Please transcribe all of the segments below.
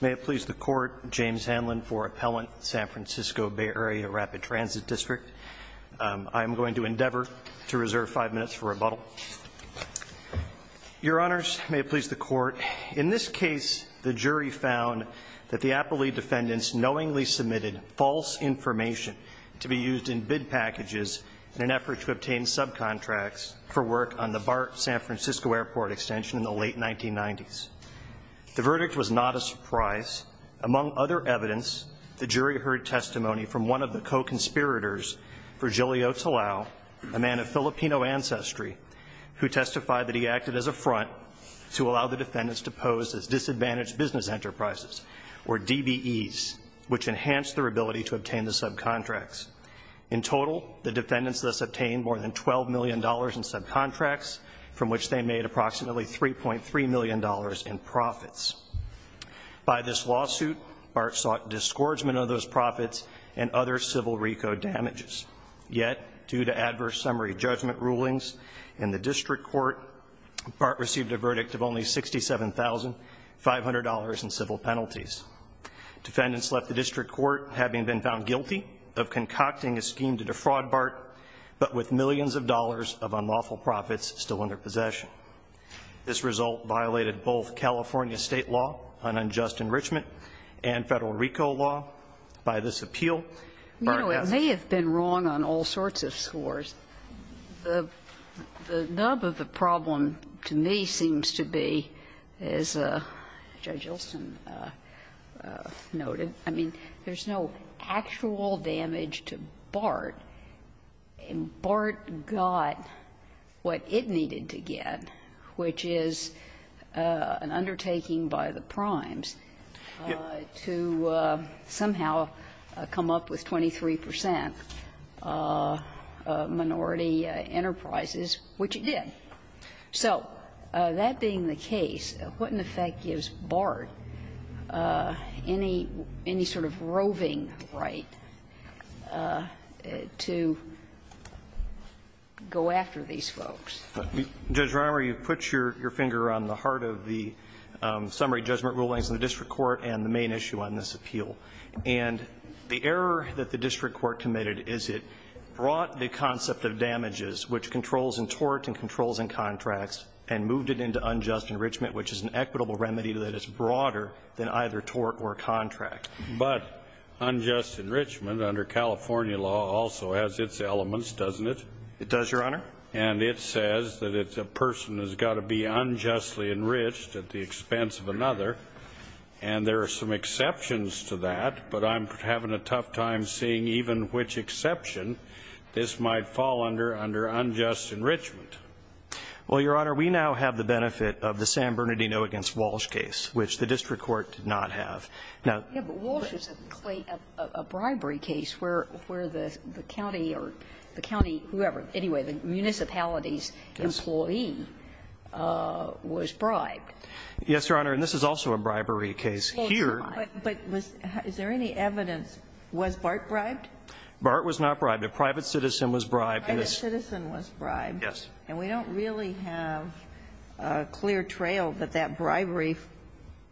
May it please the Court, James Hanlon for Appellant, San Francisco Bay Area Rapid Transit District. I am going to endeavor to reserve five minutes for rebuttal. Your Honors, may it please the Court, in this case the jury found that the appellee defendants knowingly submitted false information to be used in bid packages in an effort to obtain subcontracts for work on the BART San Francisco Airport extension in the late 1990s. The verdict was not a surprise. Among other evidence, the jury heard testimony from one of the co-conspirators, Virgilio Talao, a man of Filipino ancestry who testified that he acted as a front to allow the defendants to pose as disadvantaged business enterprises, or DBEs, which enhanced their ability to obtain the subcontracts. In total, the defendants thus obtained more than $12 million in subcontracts from which they made approximately $3.3 million in profits. By this lawsuit, BART sought disgorgement of those profits and other civil RICO damages. Yet, due to adverse summary judgment rulings in the district court, BART received a verdict of only $67,500 in civil penalties. Defendants left the district court having been found guilty of concocting a scheme to defraud BART, but with millions of dollars of unlawful profits still under possession. This result violated both California State law, unjust enrichment, and Federal RICO law. By this appeal, BART has been found guilty. You know, it may have been wrong on all sorts of scores. The nub of the problem to me seems to be, as Judge Olson noted, I mean, there's no actual damage to BART, and BART got what it needed to get, which is an undertaking by the primes to somehow come up with 23 percent minority enterprises, which it did. So that being the case, what, in effect, gives BART any sort of roving right to go after these folks? Judge Romer, you've put your finger on the heart of the summary judgment rulings in the district court and the main issue on this appeal. And the error that the district court committed is it brought the concept of damages, which controls in tort and controls in contracts, and moved it into unjust enrichment, which is an equitable remedy that is broader than either tort or contract. But unjust enrichment under California law also has its elements, doesn't it? It does, Your Honor. And it says that a person has got to be unjustly enriched at the expense of another, and there are some exceptions to that, but I'm having a tough time seeing even which exception this might fall under under unjust enrichment. Well, Your Honor, we now have the benefit of the San Bernardino v. Walsh case, which the district court did not have. Now the Walsh case is a bribery case where the county or the county, whoever, anyway, the municipality's employee was bribed. Yes, Your Honor. And this is also a bribery case here. But is there any evidence, was BART bribed? BART was not bribed. A private citizen was bribed. A private citizen was bribed. Yes. And we don't really have a clear trail that that bribery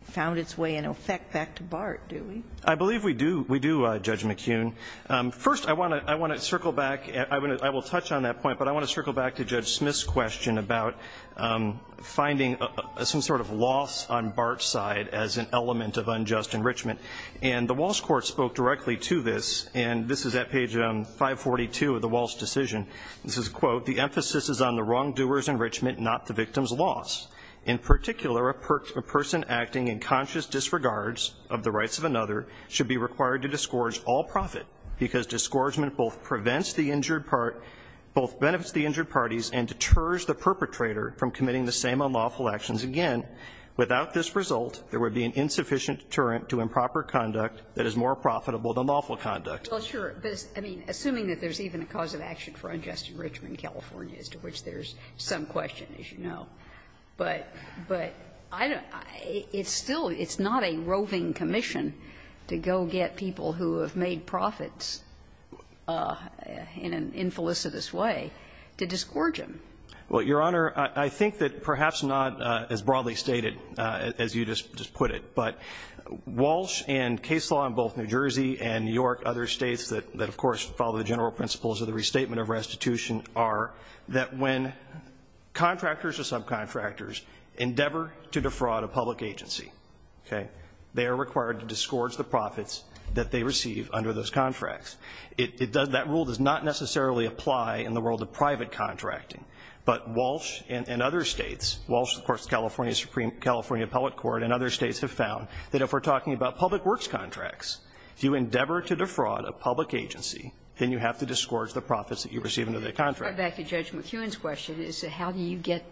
found its way in effect back to BART, do we? I believe we do, Judge McKeon. First, I want to circle back, I will touch on that point, but I want to circle back to Judge Smith's question about finding some sort of loss on BART's side as an element of unjust enrichment. And the Walsh court spoke directly to this, and this is at page 542 of the Walsh decision. This is, quote, the emphasis is on the wrongdoer's enrichment, not the victim's loss. In particular, a person acting in conscious disregards of the rights of another should be required to disgorge all profit, because disgorgement both benefits the injured parties and deters the perpetrator from committing the same unlawful actions again. Without this result, there would be an insufficient deterrent to improper conduct that is more profitable than lawful conduct. Well, sure. But, I mean, assuming that there's even a cause of action for unjust enrichment in California, as to which there's some question, as you know. But I don't know. It's still not a roving commission to go get people who have made profits in an infelicitous way to disgorge them. Well, Your Honor, I think that perhaps not as broadly stated as you just put it. But Walsh and case law in both New Jersey and New York, other states that, of course, follow the general principles of the restatement of restitution, are that when contractors or subcontractors endeavor to defraud a public agency, okay, they are required to disgorge the profits that they receive under those contracts. It does not, that rule does not necessarily apply in the world of private contracting. But Walsh and other states, Walsh, of course, California Supreme, California Appellate Court, and other states have found that if we're talking about public works contracts, if you endeavor to defraud a public agency, then you have to disgorge the profits that you receive under the contract. Back to Judge McEwen's question, is how do you get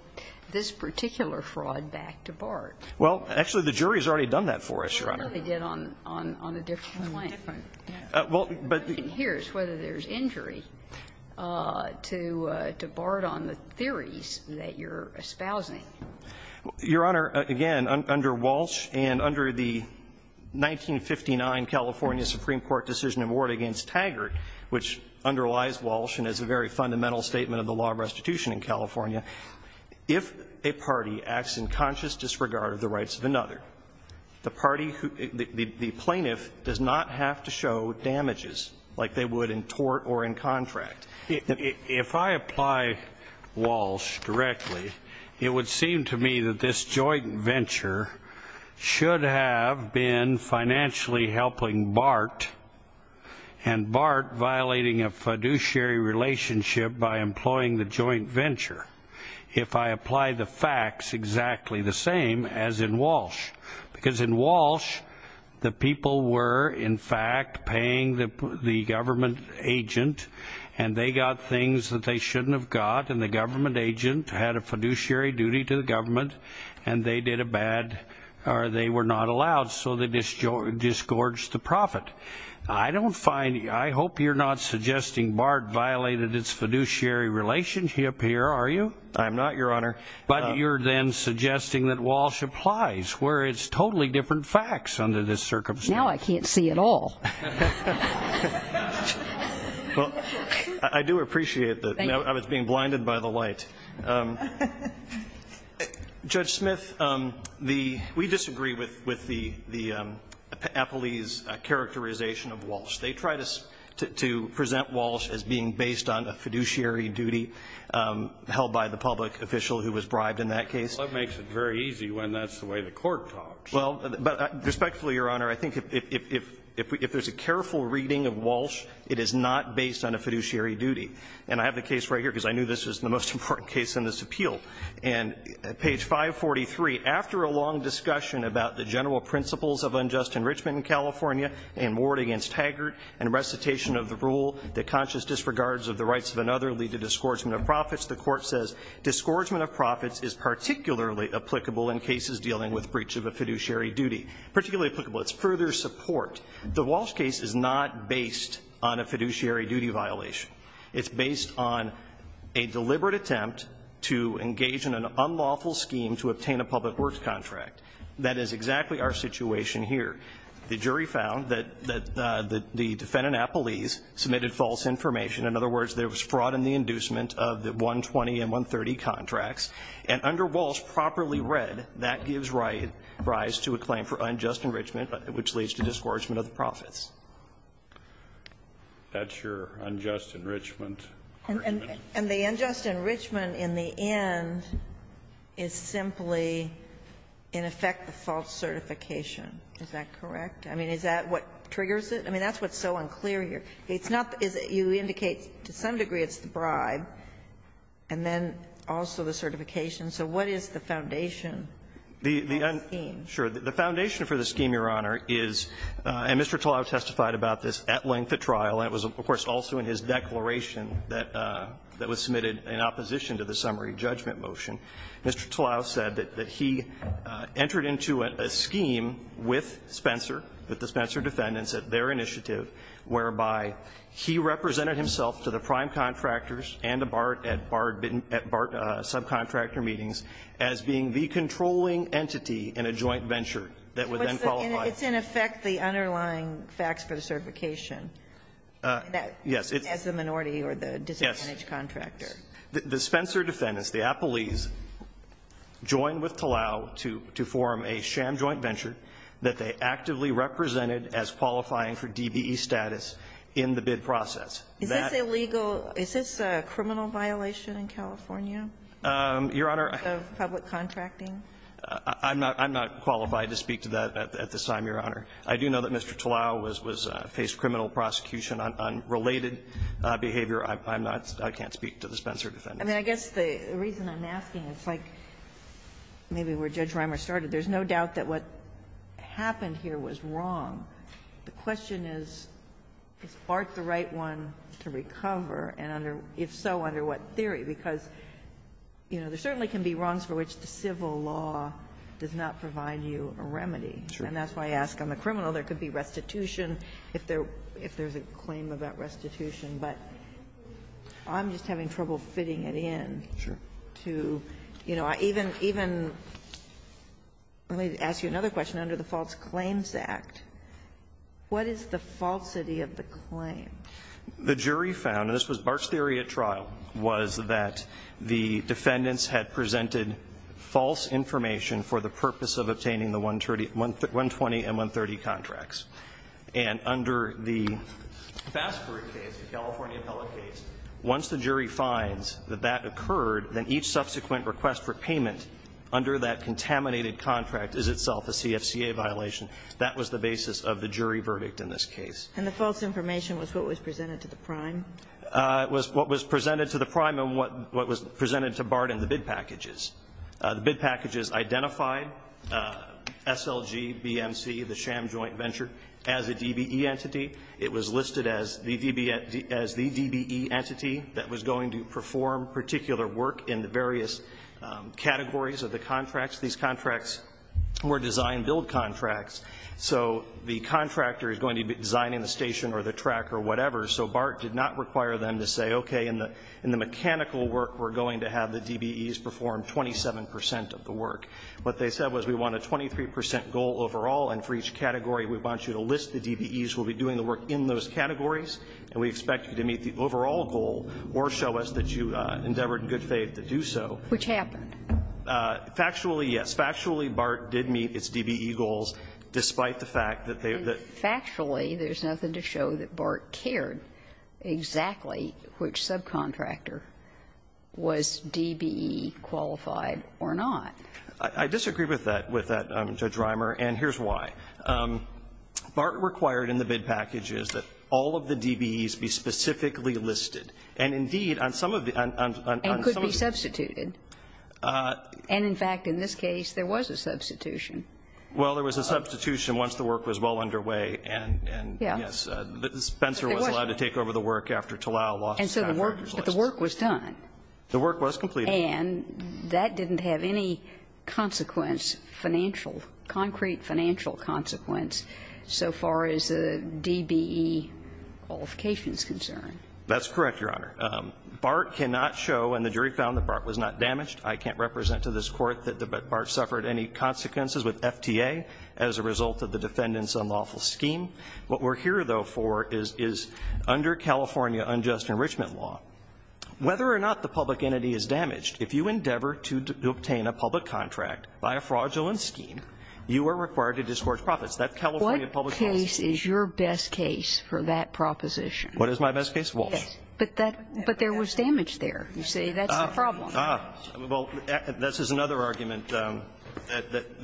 this particular fraud back to BART? Well, actually, the jury has already done that for us, Your Honor. Well, no, they did on a different line. Well, but the question here is whether there's injury to BART on the theories that you're espousing. Your Honor, again, under Walsh and under the 1959 California Supreme Court decision award against Taggart, which underlies Walsh and is a very fundamental statement of the law of restitution in California, if a party acts in conscious disregard of the rights of another, the plaintiff does not have to show damages like they would in tort or in contract. If I apply Walsh directly, it would seem to me that this joint venture should have been financially helping BART and BART violating a fiduciary relationship by employing the joint venture. If I apply the facts exactly the same as in Walsh, because in Walsh, the people were in fact paying the government agent, and they got things that they shouldn't have got, and the government agent had a fiduciary duty to the government, and they did a bad, or they were not allowed, so they disgorged the profit. I hope you're not suggesting BART violated its fiduciary relationship here, are you? I'm not, Your Honor. But you're then suggesting that Walsh applies, where it's totally different facts under this circumstance. Now I can't see at all. Well, I do appreciate that. Thank you. I was being blinded by the light. Judge Smith, we disagree with the appellees' characterization of Walsh. They try to present Walsh as being based on a fiduciary duty held by the public official who was bribed in that case. Well, that makes it very easy when that's the way the Court talks. Well, but respectfully, Your Honor, I think if there's a careful reading of Walsh, it is not based on a fiduciary duty. And I have the case right here because I knew this was the most important case in this appeal. And at page 543, after a long discussion about the general principles of unjust enrichment in California and Ward against Haggard and recitation of the rule that conscious disregards of the rights of another lead to disgorgement of profits, the Court says disgorgement of profits is particularly applicable in cases dealing with breach of a fiduciary duty. Particularly applicable. It's further support. The Walsh case is not based on a fiduciary duty violation. It's based on a deliberate attempt to engage in an unlawful scheme to obtain a public works contract. That is exactly our situation here. The jury found that the defendant, Appelese, submitted false information. In other words, there was fraud in the inducement of the 120 and 130 contracts. And under Walsh, properly read, that gives rise to a claim for unjust enrichment, which leads to disgorgement of the profits. That's your unjust enrichment. And the unjust enrichment in the end is simply, in effect, the false certification. Is that correct? I mean, is that what triggers it? I mean, that's what's so unclear here. It's not that you indicate to some degree it's the bribe, and then also the certification. So what is the foundation of the scheme? Sure. The foundation for the scheme, Your Honor, is, and Mr. Tlau testified about this at length at trial, and it was, of course, also in his declaration that was submitted in opposition to the summary judgment motion, Mr. Tlau said that he entered into a scheme with Spencer, with the Spencer defendants, at their initiative, whereby he represented himself to the prime contractors and the BART at BART subcontractor meetings as being the controlling entity in a joint venture that would then qualify It's, in effect, the underlying facts for the certification. Yes. As the minority or the disadvantaged contractor. The Spencer defendants, the appellees, joined with Tlau to form a sham joint venture that they actively represented as qualifying for DBE status in the bid process. Is this illegal? Is this a criminal violation in California? Your Honor. Of public contracting? I'm not qualified to speak to that at this time, Your Honor. I do know that Mr. Tlau faced criminal prosecution on related behavior. I'm not, I can't speak to the Spencer defendants. I mean, I guess the reason I'm asking, it's like maybe where Judge Reimer started. There's no doubt that what happened here was wrong. The question is, is BART the right one to recover, and under, if so, under what theory? Because, you know, there certainly can be wrongs for which the civil law does not provide you a remedy. Sure. And that's why I ask on the criminal. There could be restitution if there's a claim about restitution. But I'm just having trouble fitting it in. Sure. To, you know, even, even, let me ask you another question. Under the False Claims Act, what is the falsity of the claim? The jury found, and this was BART's theory at trial, was that the defendants had presented false information for the purpose of obtaining the 120 and 130 contracts. And under the Fassberg case, the California appellate case, once the jury finds that that occurred, then each subsequent request for payment under that contaminated contract is itself a CFCA violation. That was the basis of the jury verdict in this case. And the false information was what was presented to the prime? It was what was presented to the prime and what was presented to BART in the bid packages. The bid packages identified SLG, BMC, the sham joint venture, as a DBE entity. It was listed as the DBE entity that was going to perform particular work in the various categories of the contracts. These contracts were design-build contracts. So the contractor is going to be designing the station or the track or whatever. So BART did not require them to say, okay, in the mechanical work, we're going to have the DBEs perform 27 percent of the work. What they said was, we want a 23 percent goal overall, and for each category, we want you to list the DBEs who will be doing the work in those categories, and we expect you to meet the overall goal or show us that you endeavored in good faith to do so. Which happened. Factually, yes. Factually, BART did meet its DBE goals, despite the fact that they were there. Actually, there's nothing to show that BART cared exactly which subcontractor was DBE-qualified or not. I disagree with that, with that, Judge Reimer, and here's why. BART required in the bid packages that all of the DBEs be specifically listed. And indeed, on some of the other ones. And could be substituted. And in fact, in this case, there was a substitution. Well, there was a substitution once the work was well underway, and yes, Spencer was allowed to take over the work after Talal lost his contractor's license. But the work was done. The work was completed. And that didn't have any consequence, financial, concrete financial consequence so far as the DBE qualification is concerned. That's correct, Your Honor. BART cannot show, and the jury found that BART was not damaged. I can't represent to this Court that BART suffered any consequences with FTA as a result of the defendant's unlawful scheme. What we're here, though, for is under California unjust enrichment law, whether or not the public entity is damaged, if you endeavor to obtain a public contract by a fraudulent scheme, you are required to disgorge profits. That's California public policy. What case is your best case for that proposition? What is my best case? Walsh. But there was damage there. You say that's the problem. Ah. Well, this is another argument that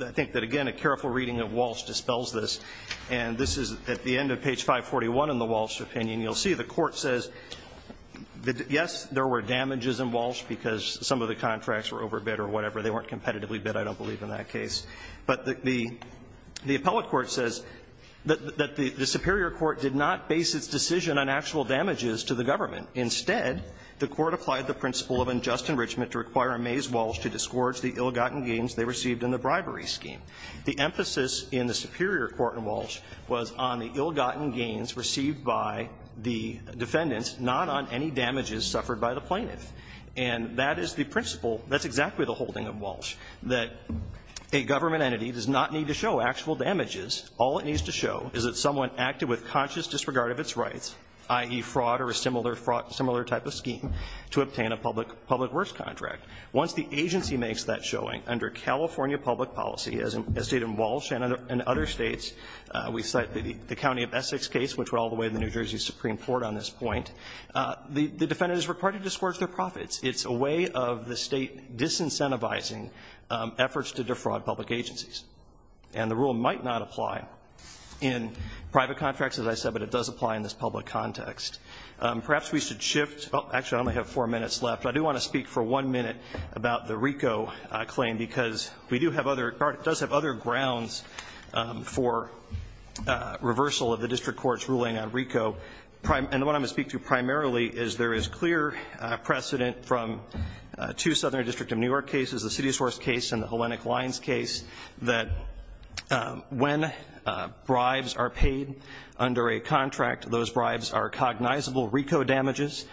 I think that, again, a careful reading of Walsh dispels this. And this is at the end of page 541 in the Walsh opinion. You'll see the Court says that, yes, there were damages in Walsh because some of the contracts were overbid or whatever. They weren't competitively bid. I don't believe in that case. But the appellate court says that the superior court did not base its decision on actual damages to the government. Instead, the Court applied the principle of unjust enrichment to require Amaze Walsh to disgorge the ill-gotten gains they received in the bribery scheme. The emphasis in the superior court in Walsh was on the ill-gotten gains received by the defendants, not on any damages suffered by the plaintiff. And that is the principle. That's exactly the holding of Walsh, that a government entity does not need to show actual damages. All it needs to show is that someone acted with conscious disregard of its rights, i.e., fraud or a similar type of scheme, to obtain a public works contract. Once the agency makes that showing under California public policy, as stated in Walsh and other states, we cite the county of Essex case, which went all the way to the New Jersey Supreme Court on this point, the defendants are required to disgorge their profits. It's a way of the State disincentivizing efforts to defraud public agencies. And the rule might not apply in private contracts, as I said, but it does apply in this public context. Perhaps we should shift. Actually, I only have four minutes left, but I do want to speak for one minute about the RICO claim, because it does have other grounds for reversal of the district court's ruling on RICO. And what I'm going to speak to primarily is there is clear precedent from two Southern District of New York cases, the City Source case and the Hellenic Lines case, that when bribes are paid under a contract, those bribes are cognizable RICO damages,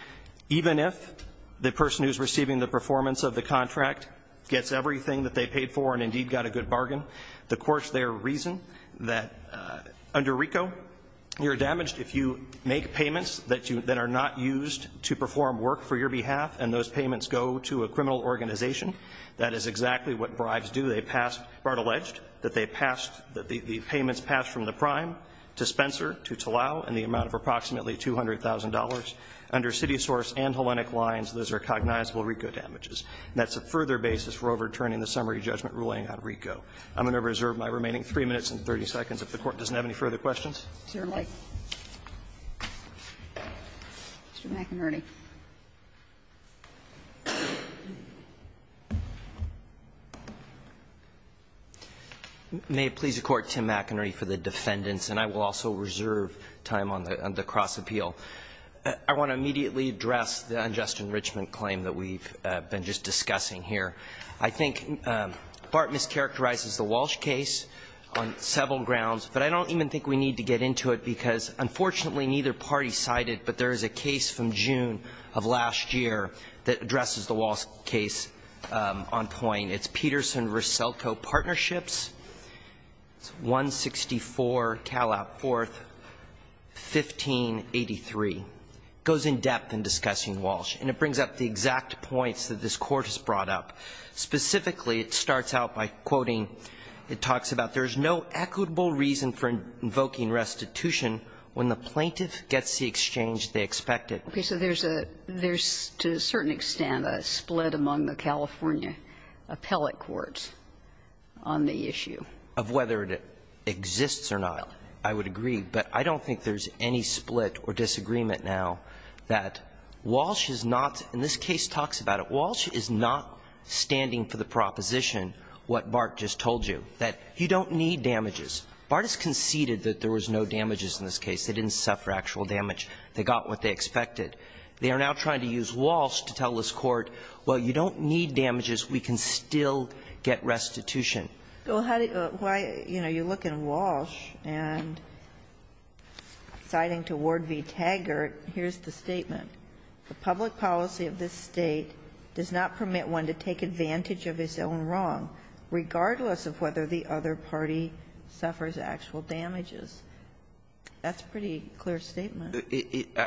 even if the person who's receiving the performance of the contract gets everything that they paid for and indeed got a good bargain. The courts there reason that under RICO, you're damaged if you make payments that are not used to perform work for your behalf and those payments go to a criminal organization. That is exactly what bribes do. They pass or are alleged that they pass, that the payments pass from the prime to Spencer, to Talal, in the amount of approximately $200,000. Under City Source and Hellenic Lines, those are cognizable RICO damages. And that's a further basis for overturning the summary judgment ruling on RICO. I'm going to reserve my remaining 3 minutes and 30 seconds if the Court doesn't have any further questions. Mr. McInerny. McInerny. May it please the Court, Tim McInerny for the defendants, and I will also reserve time on the cross-appeal. I want to immediately address the unjust enrichment claim that we've been just discussing here. I think BART mischaracterizes the Walsh case on several grounds, but I don't even think we need to get into it because, unfortunately, neither party cited, but there is a case from June of last year that addresses the Walsh case on point. It's Peterson-Russelco Partnerships, 164 Calab Fourth, 1583. It goes in-depth in discussing Walsh, and it brings up the exact points that this Court has brought up. Specifically, it starts out by quoting, it talks about there's no equitable reason for invoking restitution when the plaintiff gets the exchange they expected. Okay. So there's a – there's, to a certain extent, a split among the California appellate courts on the issue. Of whether it exists or not, I would agree. But I don't think there's any split or disagreement now that Walsh is not – and this case talks about it. Walsh is not standing for the proposition, what BART just told you, that you don't need damages. BART has conceded that there was no damages in this case. They didn't suffer actual damage. They got what they expected. They are now trying to use Walsh to tell this Court, well, you don't need damages. We can still get restitution. Well, how do you – why, you know, you look at Walsh and citing to Ward v. Taggart, here's the statement. The public policy of this State does not permit one to take advantage of his own wrong, regardless of whether the other party suffers actual damages. That's a pretty clear statement.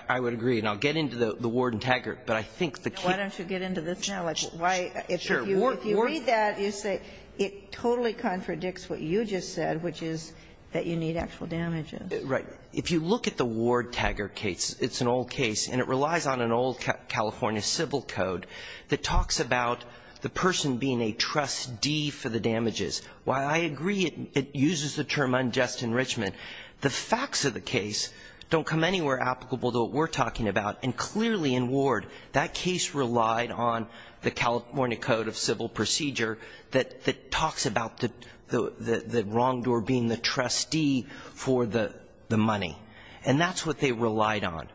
I would agree. And I'll get into the Ward and Taggart, but I think the case – Why don't you get into this now? Like, why – if you read that, you say it totally contradicts what you just said, which is that you need actual damages. Right. If you look at the Ward-Taggart case, it's an old case, and it relies on an old California civil code that talks about the person being a trustee for the damages. While I agree it uses the term unjust enrichment, the facts of the case don't come anywhere applicable to what we're talking about. And clearly in Ward, that case relied on the California Code of Civil Procedure that talks about the wrongdoer being the trustee for the money. And that's what they relied on.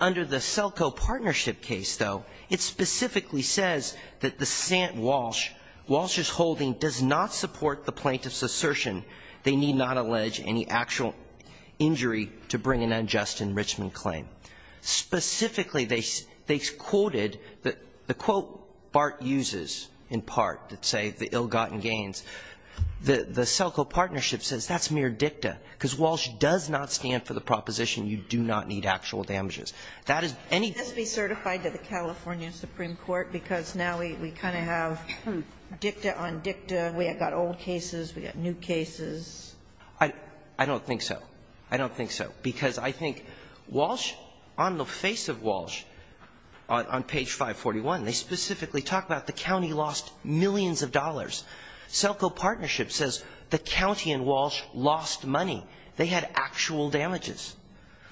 Under the Selco partnership case, though, it specifically says that the St. Walsh – Walsh's holding does not support the plaintiff's assertion they need not allege any actual injury to bring an unjust enrichment claim. Specifically, they quoted – the quote Bart uses in part that say the ill-gotten gains, the Selco partnership says that's mere dicta, because Walsh does not stand for the proposition you do not need actual damages. That is any – Can this be certified to the California Supreme Court? Because now we kind of have dicta on dicta. We have got old cases. We have got new cases. I don't think so. I don't think so. Because I think Walsh, on the face of Walsh, on page 541, they specifically talk about the county lost millions of dollars. Selco partnership says the county in Walsh lost money. They had actual damages.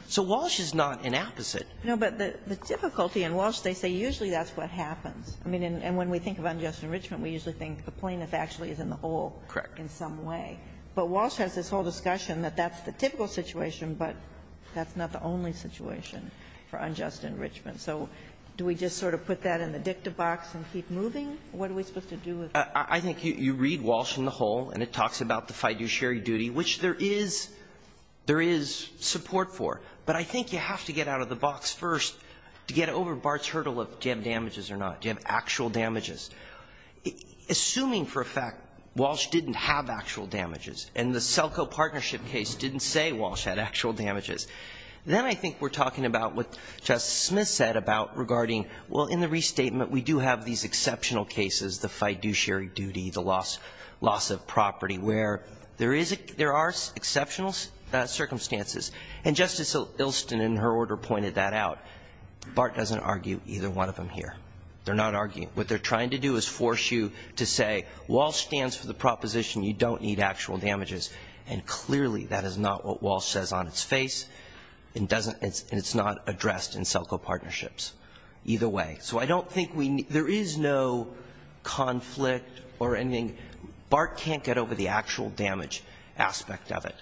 So Walsh is not an opposite. No, but the difficulty in Walsh, they say usually that's what happens. I mean, and when we think of unjust enrichment, we usually think the plaintiff actually is in the hole. Correct. In some way. But Walsh has this whole discussion that that's the typical situation, but that's not the only situation for unjust enrichment. So do we just sort of put that in the dicta box and keep moving? What are we supposed to do with it? I think you read Walsh in the whole, and it talks about the fiduciary duty, which there is support for. But I think you have to get out of the box first to get over Bart's hurdle of do you have damages or not. Do you have actual damages? Assuming for a fact Walsh didn't have actual damages, and the Selco partnership case didn't say Walsh had actual damages, then I think we're talking about what Justice Smith said about regarding, well, in the restatement, we do have these exceptional cases, the fiduciary duty, the loss of property, where there are some exceptional circumstances. And Justice Ilston, in her order, pointed that out. Bart doesn't argue either one of them here. They're not arguing. What they're trying to do is force you to say Walsh stands for the proposition you don't need actual damages, and clearly that is not what Walsh says on its face and doesn't – and it's not addressed in Selco partnerships. Either way. So I don't think we – there is no conflict or anything. Bart can't get over the actual damage aspect of it.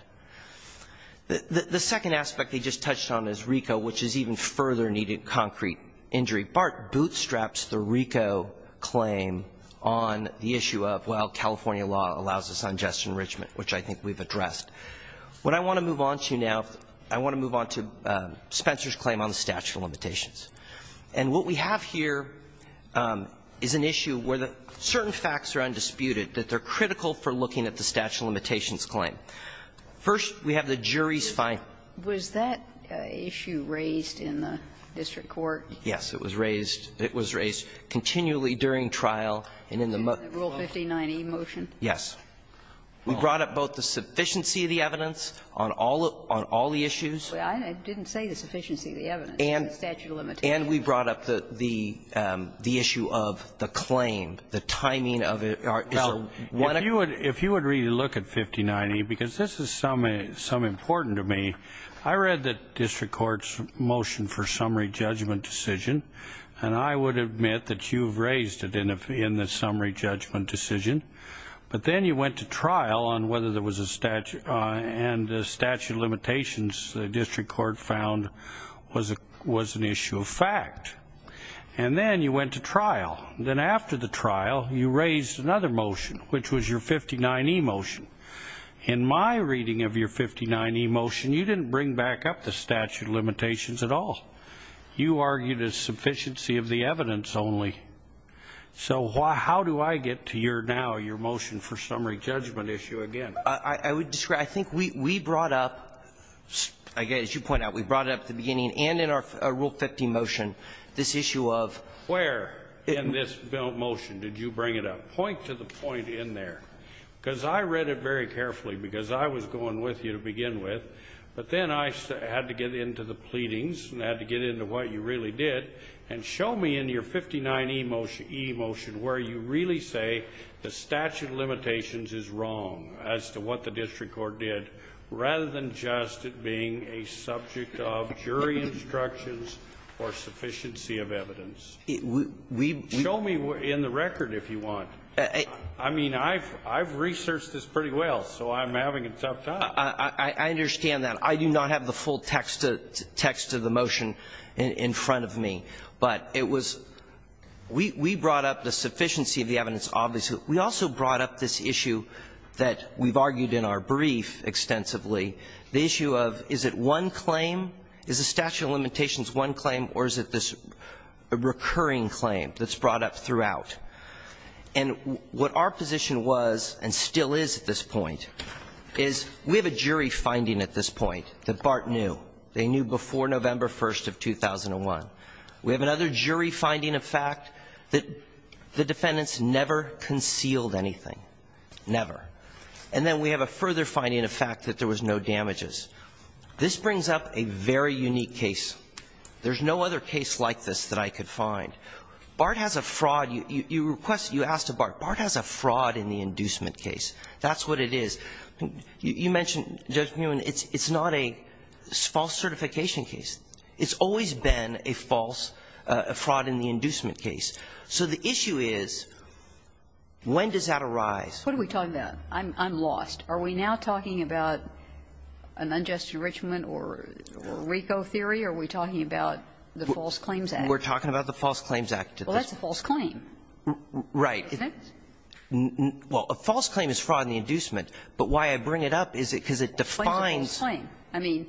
The second aspect they just touched on is RICO, which is even further needed concrete injury. Bart bootstraps the RICO claim on the issue of, well, California law allows us unjust enrichment, which I think we've addressed. What I want to move on to now, I want to move on to Spencer's claim on the statute of limitations. And what we have here is an issue where the certain facts are undisputed, that they're critical for looking at the statute of limitations claim. First, we have the jury's findings. Was that issue raised in the district court? Yes, it was raised. It was raised continually during trial and in the motion. In the Rule 59e motion? Yes. We brought up both the sufficiency of the evidence on all the issues. I didn't say the sufficiency of the evidence. It's the statute of limitations. And we brought up the issue of the claim, the timing of it. Well, if you would really look at 59e, because this is some important to me, I read the district court's motion for summary judgment decision, and I would admit that you've raised it in the summary judgment decision. But then you went to trial on whether there was a statute and the statute of limitations the district court found was an issue of fact. And then you went to trial. Then after the trial, you raised another motion, which was your 59e motion. In my reading of your 59e motion, you didn't bring back up the statute of limitations at all. You argued a sufficiency of the evidence only. So how do I get to now your motion for summary judgment issue again? I would disagree. I think we brought up, as you point out, we brought up at the beginning and in our Rule 50 motion this issue of ---- Where in this motion did you bring it up? Point to the point in there. Because I read it very carefully, because I was going with you to begin with. But then I had to get into the pleadings and had to get into what you really did and show me in your 59e motion where you really say the statute of limitations is wrong as to what the district court did, rather than just it being a subject of jury instructions or sufficiency of evidence. Show me in the record if you want. I mean, I've researched this pretty well, so I'm having a tough time. I understand that. I do not have the full text of the motion in front of me. But it was we brought up the sufficiency of the evidence obviously. We also brought up this issue that we've argued in our brief extensively, the issue of is it one claim, is the statute of limitations one claim or is it this recurring claim that's brought up throughout. And what our position was and still is at this point is we have a jury finding at this point that BART knew. They knew before November 1st of 2001. We have another jury finding of fact that the defendants never concealed anything. Never. And then we have a further finding of fact that there was no damages. This brings up a very unique case. There's no other case like this that I could find. BART has a fraud. You request, you ask to BART. BART has a fraud in the inducement case. That's what it is. You mentioned, Judge Muin, it's not a false certification case. It's always been a false fraud in the inducement case. So the issue is when does that arise? What are we talking about? I'm lost. Are we now talking about an unjust enrichment or RICO theory? Are we talking about the False Claims Act? We're talking about the False Claims Act. Well, that's a false claim. Right. Well, a false claim is fraud in the inducement. But why I bring it up is because it defines. I mean.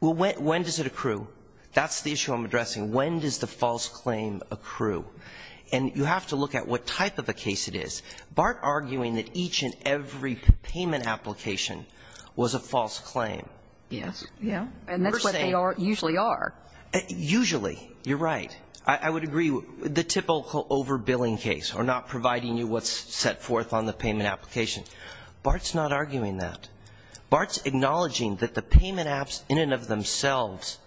Well, when does it accrue? That's the issue I'm addressing. When does the false claim accrue? And you have to look at what type of a case it is. BART arguing that each and every payment application was a false claim. Yes. Yeah. And that's what they usually are. Usually. You're right. I would agree. The typical overbilling case or not providing you what's set forth on the payment application, BART's not arguing that. BART's acknowledging that the payment apps in and of themselves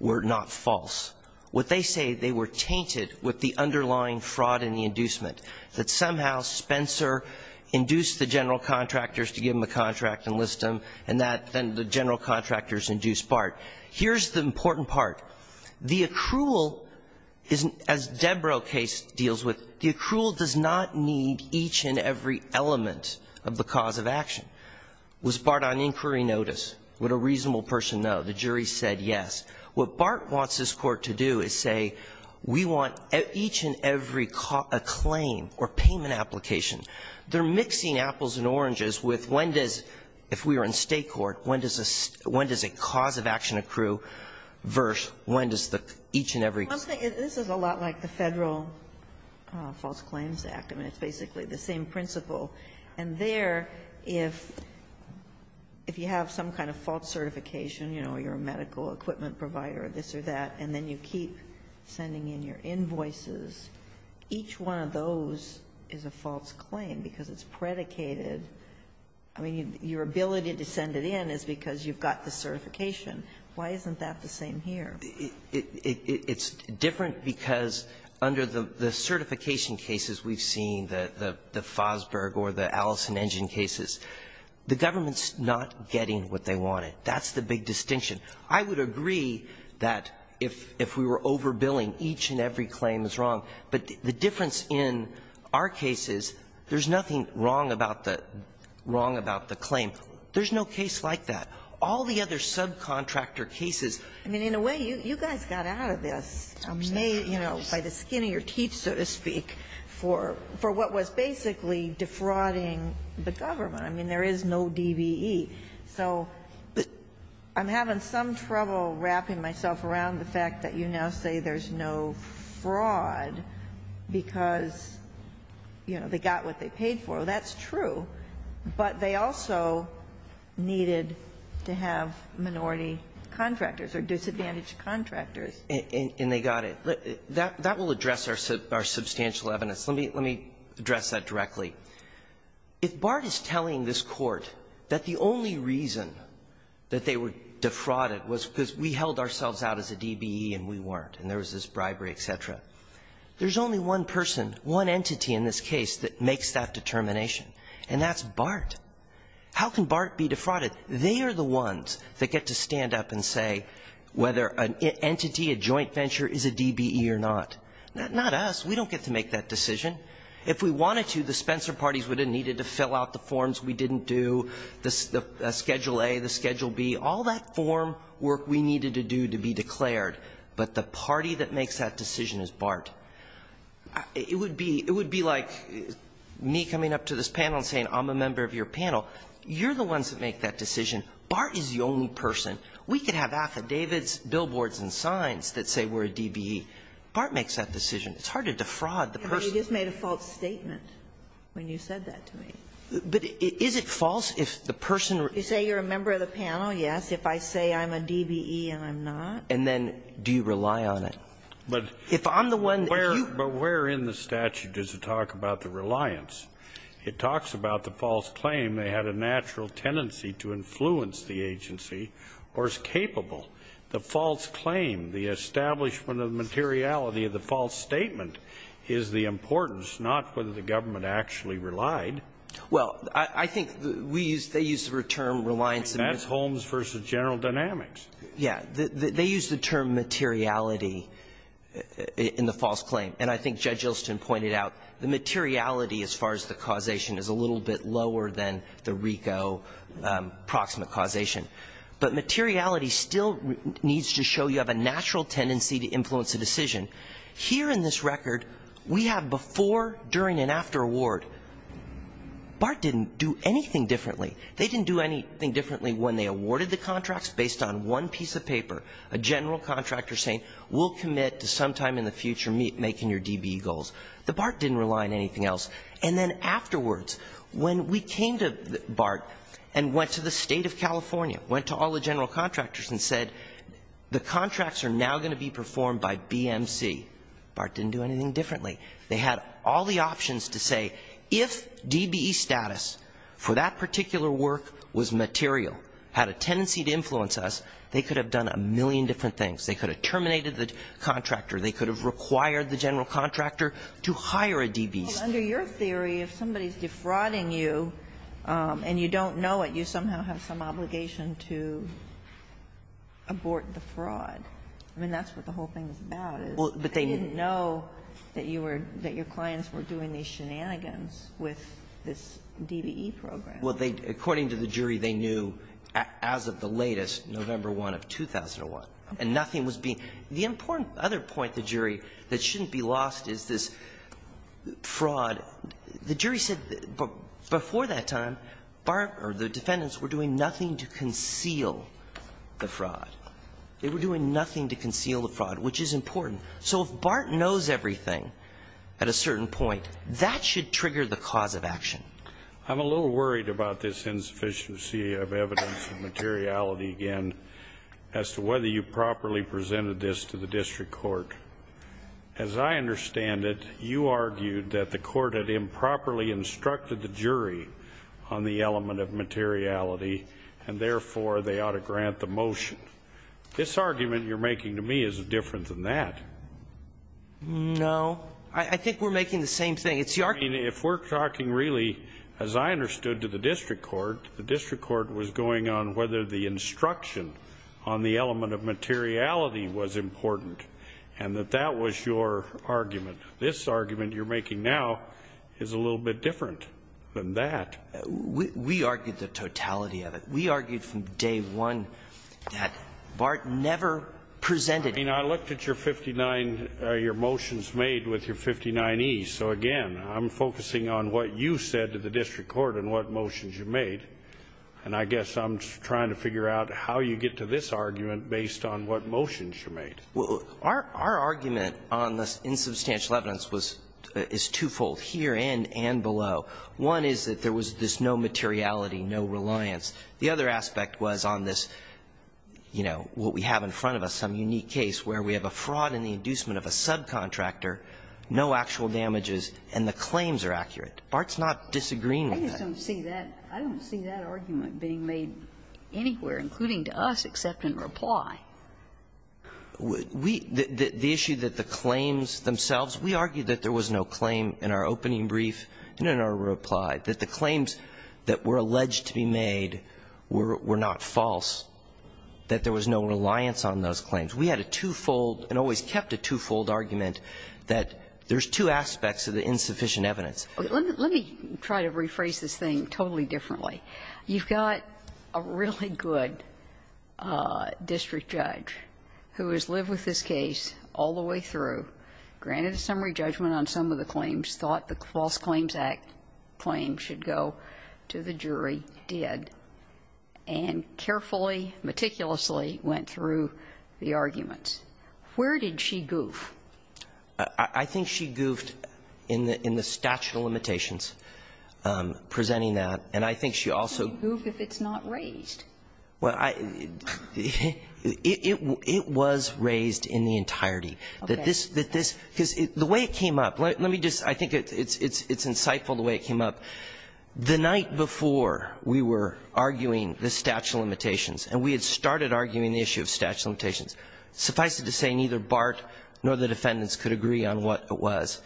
were not false. What they say, they were tainted with the underlying fraud in the inducement, that somehow Spencer induced the general contractors to give him a contract and list him, and that then the general contractors induced BART. Here's the important part. The accrual, as Debro case deals with, the accrual does not need each and every element of the cause of action. Was BART on inquiry notice? Would a reasonable person know? The jury said yes. What BART wants this Court to do is say we want each and every claim or payment application. They're mixing apples and oranges with when does, if we were in State court, when does a cause of action accrue versus when does the each and every. This is a lot like the Federal False Claims Act. I mean, it's basically the same principle. And there, if you have some kind of false certification, you know, you're a medical equipment provider, this or that, and then you keep sending in your invoices, each one of those is a false claim because it's predicated. I mean, your ability to send it in is because you've got the certification. Why isn't that the same here? It's different because under the certification cases we've seen, the Fosberg or the Allison-Engin cases, the government's not getting what they wanted. That's the big distinction. I would agree that if we were overbilling, each and every claim is wrong. But the difference in our case is there's nothing wrong about the claim. There's no case like that. All the other subcontractor cases. I mean, in a way, you guys got out of this, you know, by the skin of your teeth, so to speak, for what was basically defrauding the government. I mean, there is no DBE. So I'm having some trouble wrapping myself around the fact that you now say there's no fraud because, you know, they got what they paid for. That's true, but they also needed to have minority contractors or disadvantaged contractors. And they got it. That will address our substantial evidence. Let me address that directly. If Bart is telling this Court that the only reason that they were defrauded was because we held ourselves out as a DBE and we weren't, and there was this bribery, et cetera, there's only one person, one entity in this case that makes that determination, and that's Bart. How can Bart be defrauded? They are the ones that get to stand up and say whether an entity, a joint venture, is a DBE or not. Not us. We don't get to make that decision. If we wanted to, the Spencer parties would have needed to fill out the forms we didn't do, the Schedule A, the Schedule B, all that form work we needed to do to be declared. But the party that makes that decision is Bart. It would be like me coming up to this panel and saying, I'm a member of your panel. You're the ones that make that decision. Bart is the only person. We could have affidavits, billboards and signs that say we're a DBE. Bart makes that decision. It's hard to defraud the person. Ginsburg. But you just made a false statement when you said that to me. But is it false if the person were to say you're a member of the panel? Yes. If I say I'm a DBE and I'm not? And then do you rely on it? But if I'm the one that you But where in the statute does it talk about the reliance? It talks about the false claim they had a natural tendency to influence the agency or is capable. The false claim, the establishment of the materiality of the false statement is the importance, not whether the government actually relied. Well, I think we use the term reliance. That's Holmes v. General Dynamics. Yeah. They use the term materiality in the false claim. And I think Judge Ilston pointed out the materiality as far as the causation is a little bit lower than the RICO proximate causation. But materiality still needs to show you have a natural tendency to influence a decision. Here in this record, we have before, during and after award. Bart didn't do anything differently. They didn't do anything differently when they awarded the contracts based on one piece of paper, a general contractor saying we'll commit to sometime in the future making your DBE goals. The Bart didn't rely on anything else. And then afterwards, when we came to Bart and went to the State of California, went to all the general contractors and said the contracts are now going to be performed by BMC, Bart didn't do anything differently. They had all the options to say if DBE status for that particular work was material, had a tendency to influence us, they could have done a million different things. They could have terminated the contractor. They could have required the general contractor to hire a DBE. Well, under your theory, if somebody is defrauding you and you don't know it, you somehow have some obligation to abort the fraud. I mean, that's what the whole thing is about. I didn't know that your clients were doing these shenanigans with this DBE program. Well, according to the jury, they knew as of the latest, November 1 of 2001, and nothing was being the important other point, the jury, that shouldn't be lost is this fraud. The jury said before that time Bart or the defendants were doing nothing to conceal the fraud. They were doing nothing to conceal the fraud, which is important. So if Bart knows everything at a certain point, that should trigger the cause of action. I'm a little worried about this insufficiency of evidence of materiality again as to whether you properly presented this to the district court. As I understand it, you argued that the court had improperly instructed the jury on the materiality of the evidence. This argument you're making to me is different than that. No. I think we're making the same thing. It's the argument. I mean, if we're talking really, as I understood, to the district court, the district court was going on whether the instruction on the element of materiality was important and that that was your argument. This argument you're making now is a little bit different than that. We argued the totality of it. We argued from day one that Bart never presented it. I mean, I looked at your 59, your motions made with your 59E. So again, I'm focusing on what you said to the district court and what motions you made, and I guess I'm trying to figure out how you get to this argument based on what motions you made. Our argument on this insubstantial evidence was, is twofold here and below. One is that there was this no materiality, no reliance. The other aspect was on this, you know, what we have in front of us, some unique case where we have a fraud in the inducement of a subcontractor, no actual damages, and the claims are accurate. Bart's not disagreeing with that. I just don't see that. I don't see that argument being made anywhere, including to us, except in reply. The issue that the claims themselves, we argued that there was no claim in our opening brief and in our reply, that the claims that were alleged to be made were not false, that there was no reliance on those claims. We had a twofold and always kept a twofold argument that there's two aspects of the insufficient evidence. Let me try to rephrase this thing totally differently. You've got a really good district judge who has lived with this case all the way through, granted a summary judgment on some of the claims, thought the False Claims Act claim should go to the jury, did, and carefully, meticulously went through the arguments. Where did she goof? I think she goofed in the statute of limitations presenting that, and I think she also You can't goof if it's not raised. Well, I – it was raised in the entirety. That this – that this – because the way it came up, let me just – I think it's insightful the way it came up. The night before we were arguing the statute of limitations, and we had started arguing the issue of statute of limitations, suffice it to say, neither Bart nor the defendants could agree on what it was.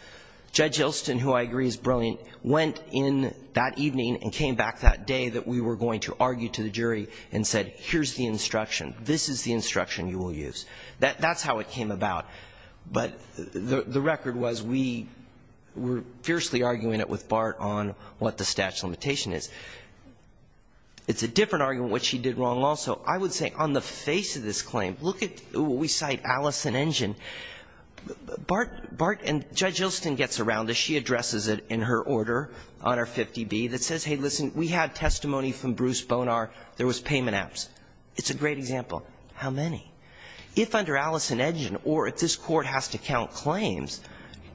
Judge Ilston, who I agree is brilliant, went in that evening and came back that day that we were going to argue to the jury and said, here's the instruction, this is the instruction you will use. That's how it came about. But the record was we were fiercely arguing it with Bart on what the statute of limitations is. It's a different argument what she did wrong also. I would say on the face of this claim, look at – we cite Allison Injun. Bart – and Judge Ilston gets around this. She addresses it in her order on our 50B that says, hey, listen, we had testimony from Bruce Bonar. There was payment apps. It's a great example. How many? If under Allison Injun or if this Court has to count claims,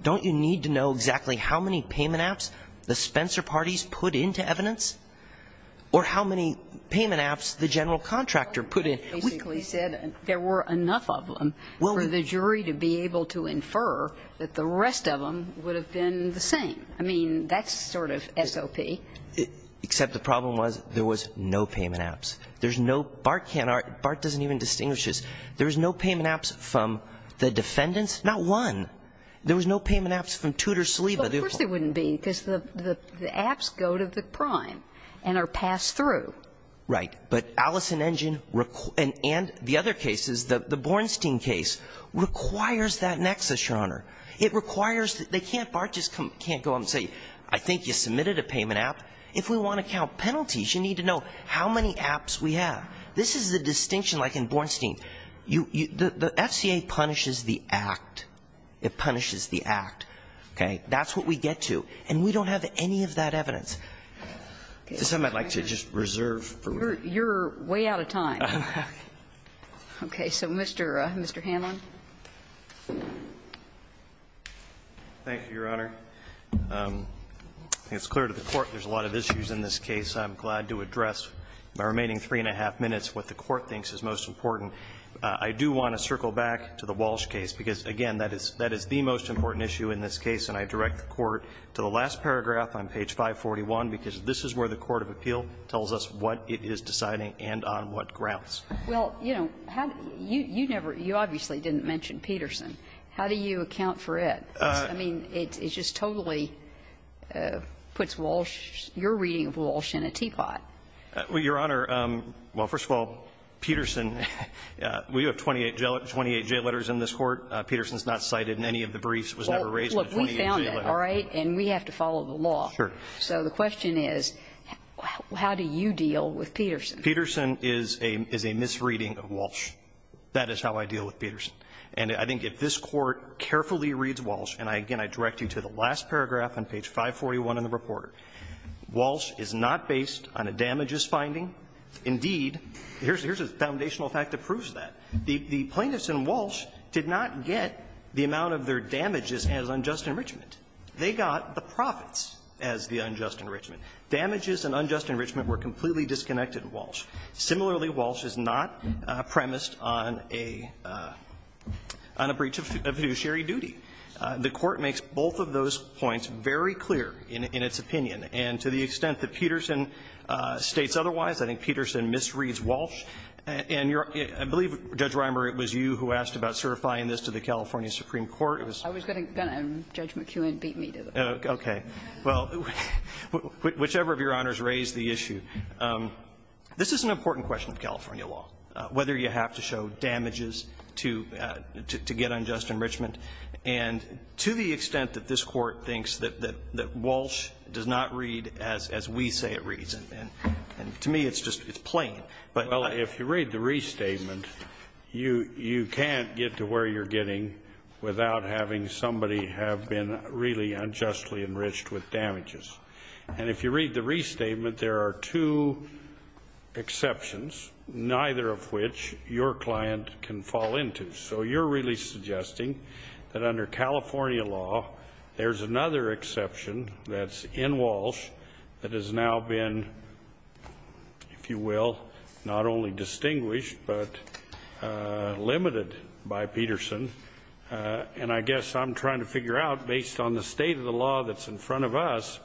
don't you need to know exactly how many payment apps the Spencer parties put into evidence or how many payment apps the general contractor put in? We basically said there were enough of them for the jury to be able to infer that the rest of them would have been the same. I mean, that's sort of SOP. Except the problem was there was no payment apps. There's no – Bart can't argue – Bart doesn't even distinguish this. There was no payment apps from the defendants. Not one. There was no payment apps from Tudor, Saliba. Of course there wouldn't be because the apps go to the prime and are passed through. Right. But Allison Injun and the other cases, the Bornstein case, requires that nexus, Your Honor. It requires – they can't – Bart just can't go up and say, I think you submitted a payment app. If we want to count penalties, you need to know how many apps we have. This is the distinction, like in Bornstein. You – the FCA punishes the act. It punishes the act. Okay? That's what we get to. And we don't have any of that evidence. This I might like to just reserve for me. You're way out of time. Okay. Okay. So Mr. – Mr. Hanlon. Thank you, Your Honor. It's clear to the Court there's a lot of issues in this case. I'm glad to address in the remaining three-and-a-half minutes what the Court thinks is most important. I do want to circle back to the Walsh case, because, again, that is – that is the most important issue in this case, and I direct the Court to the last paragraph on page 541, because this is where the court of appeal tells us what it is deciding and on what grounds. Well, you know, how – you never – you obviously didn't mention Peterson. How do you account for it? I mean, it just totally puts Walsh – your reading of Walsh in a teapot. Well, Your Honor, well, first of all, Peterson – we have 28 jail letters in this court. Peterson's not cited in any of the briefs. It was never raised in the 28 jail letters. Well, look, we found that, all right? And we have to follow the law. Sure. So the question is, how do you deal with Peterson? Peterson is a misreading of Walsh. That is how I deal with Peterson. And I think if this Court carefully reads Walsh, and I – again, I direct you to the last paragraph on page 541 in the reporter, Walsh is not based on a damages finding. Indeed, here's – here's a foundational fact that proves that. The plaintiffs in Walsh did not get the amount of their damages as unjust enrichment. They got the profits as the unjust enrichment. Damages and unjust enrichment were completely disconnected in Walsh. Similarly, Walsh is not premised on a – on a breach of fiduciary duty. The Court makes both of those points very clear in its opinion. And to the extent that Peterson states otherwise, I think Peterson misreads Walsh. And your – I believe, Judge Reimer, it was you who asked about certifying this to the California Supreme Court. It was – I was going to – Judge McKeown beat me to the pulp. Okay. Well, whichever of Your Honors raised the issue. This is an important question of California law, whether you have to show damages to – to get unjust enrichment. And to the extent that this Court thinks that – that Walsh does not read as we say it reads, and to me it's just – it's plain, but I – Well, if you read the restatement, you – you can't get to where you're getting without having somebody have been really unjustly enriched with damages. And if you read the restatement, there are two exceptions, neither of which your client can fall into. So you're really suggesting that under California law, there's another exception that's in Walsh that has now been, if you will, not only distinguished, but limited by Peterson. And I guess I'm trying to figure out, based on the state of the law that's in front of us,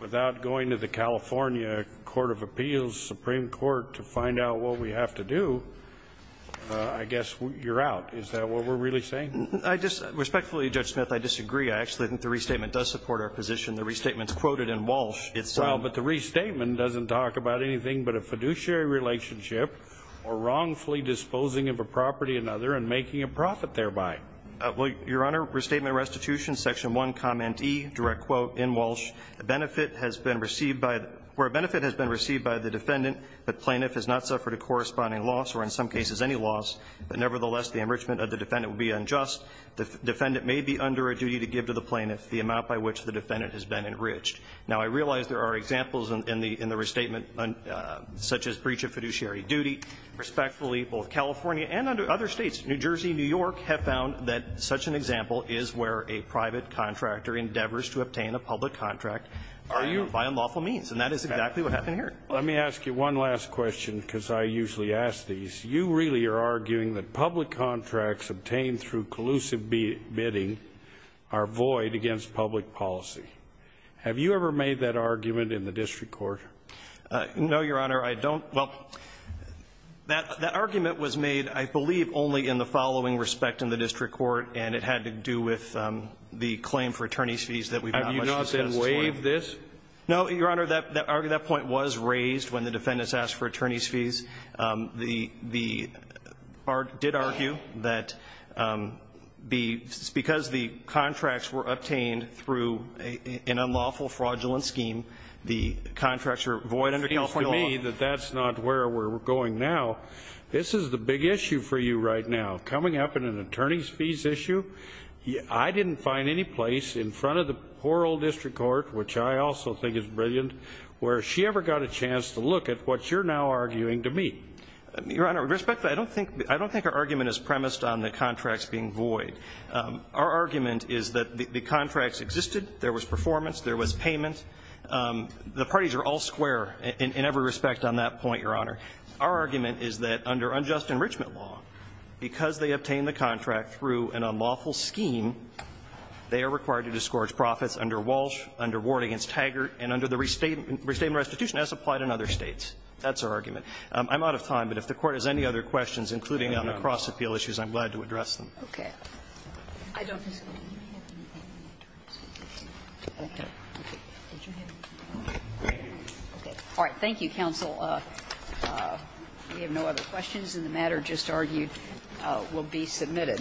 without going to the California Court of Appeals, Supreme Court, to find out what we have to do, I guess you're out. Is that what we're really saying? I just – respectfully, Judge Smith, I disagree. I actually think the restatement does support our position. The restatement's quoted in Walsh. It's – Well, but the restatement doesn't talk about anything but a fiduciary relationship or wrongfully disposing of a property or another and making a profit thereby. Well, Your Honor, restatement restitution, section 1, comment E, direct quote, in Walsh, a benefit has been received by – where a benefit has been received by the defendant, the plaintiff has not suffered a corresponding loss or in some cases any loss, but nevertheless, the enrichment of the defendant would be unjust. The defendant may be under a duty to give to the plaintiff the amount by which the defendant has been enriched. Now, I realize there are examples in the restatement such as breach of fiduciary duty. Respectfully, both California and other states, New Jersey, New York, have found that such an example is where a private contractor endeavors to obtain a public contract by unlawful means. And that is exactly what happened here. Let me ask you one last question because I usually ask these. You really are arguing that public contracts obtained through collusive bidding are void against public policy. Have you ever made that argument in the district court? No, Your Honor. I don't – well, that argument was made, I believe, only in the following respect in the district court, and it had to do with the claim for attorneys' fees that we've not much to testify. Have you not then waived this? No, Your Honor. That point was raised when the defendants asked for attorneys' fees. The – did argue that because the contracts were obtained through an unlawful fraudulent scheme, the contracts were void under California law. And you say that that's not where we're going now. This is the big issue for you right now. Coming up in an attorneys' fees issue, I didn't find any place in front of the poor old district court, which I also think is brilliant, where she ever got a chance to look at what you're now arguing to me. Your Honor, with respect, I don't think – I don't think our argument is premised on the contracts being void. Our argument is that the contracts existed, there was performance, there was payment. The parties are all square in every respect on that point, Your Honor. Our argument is that under unjust enrichment law, because they obtained the contract through an unlawful scheme, they are required to disgorge profits under Walsh, under Ward v. Taggart, and under the restatement restitution as applied in other States. That's our argument. I'm out of time, but if the Court has any other questions, including on the cross-appeal issues, I'm glad to address them. Okay. I don't disagree. All right. Thank you, counsel. We have no other questions, and the matter just argued will be submitted.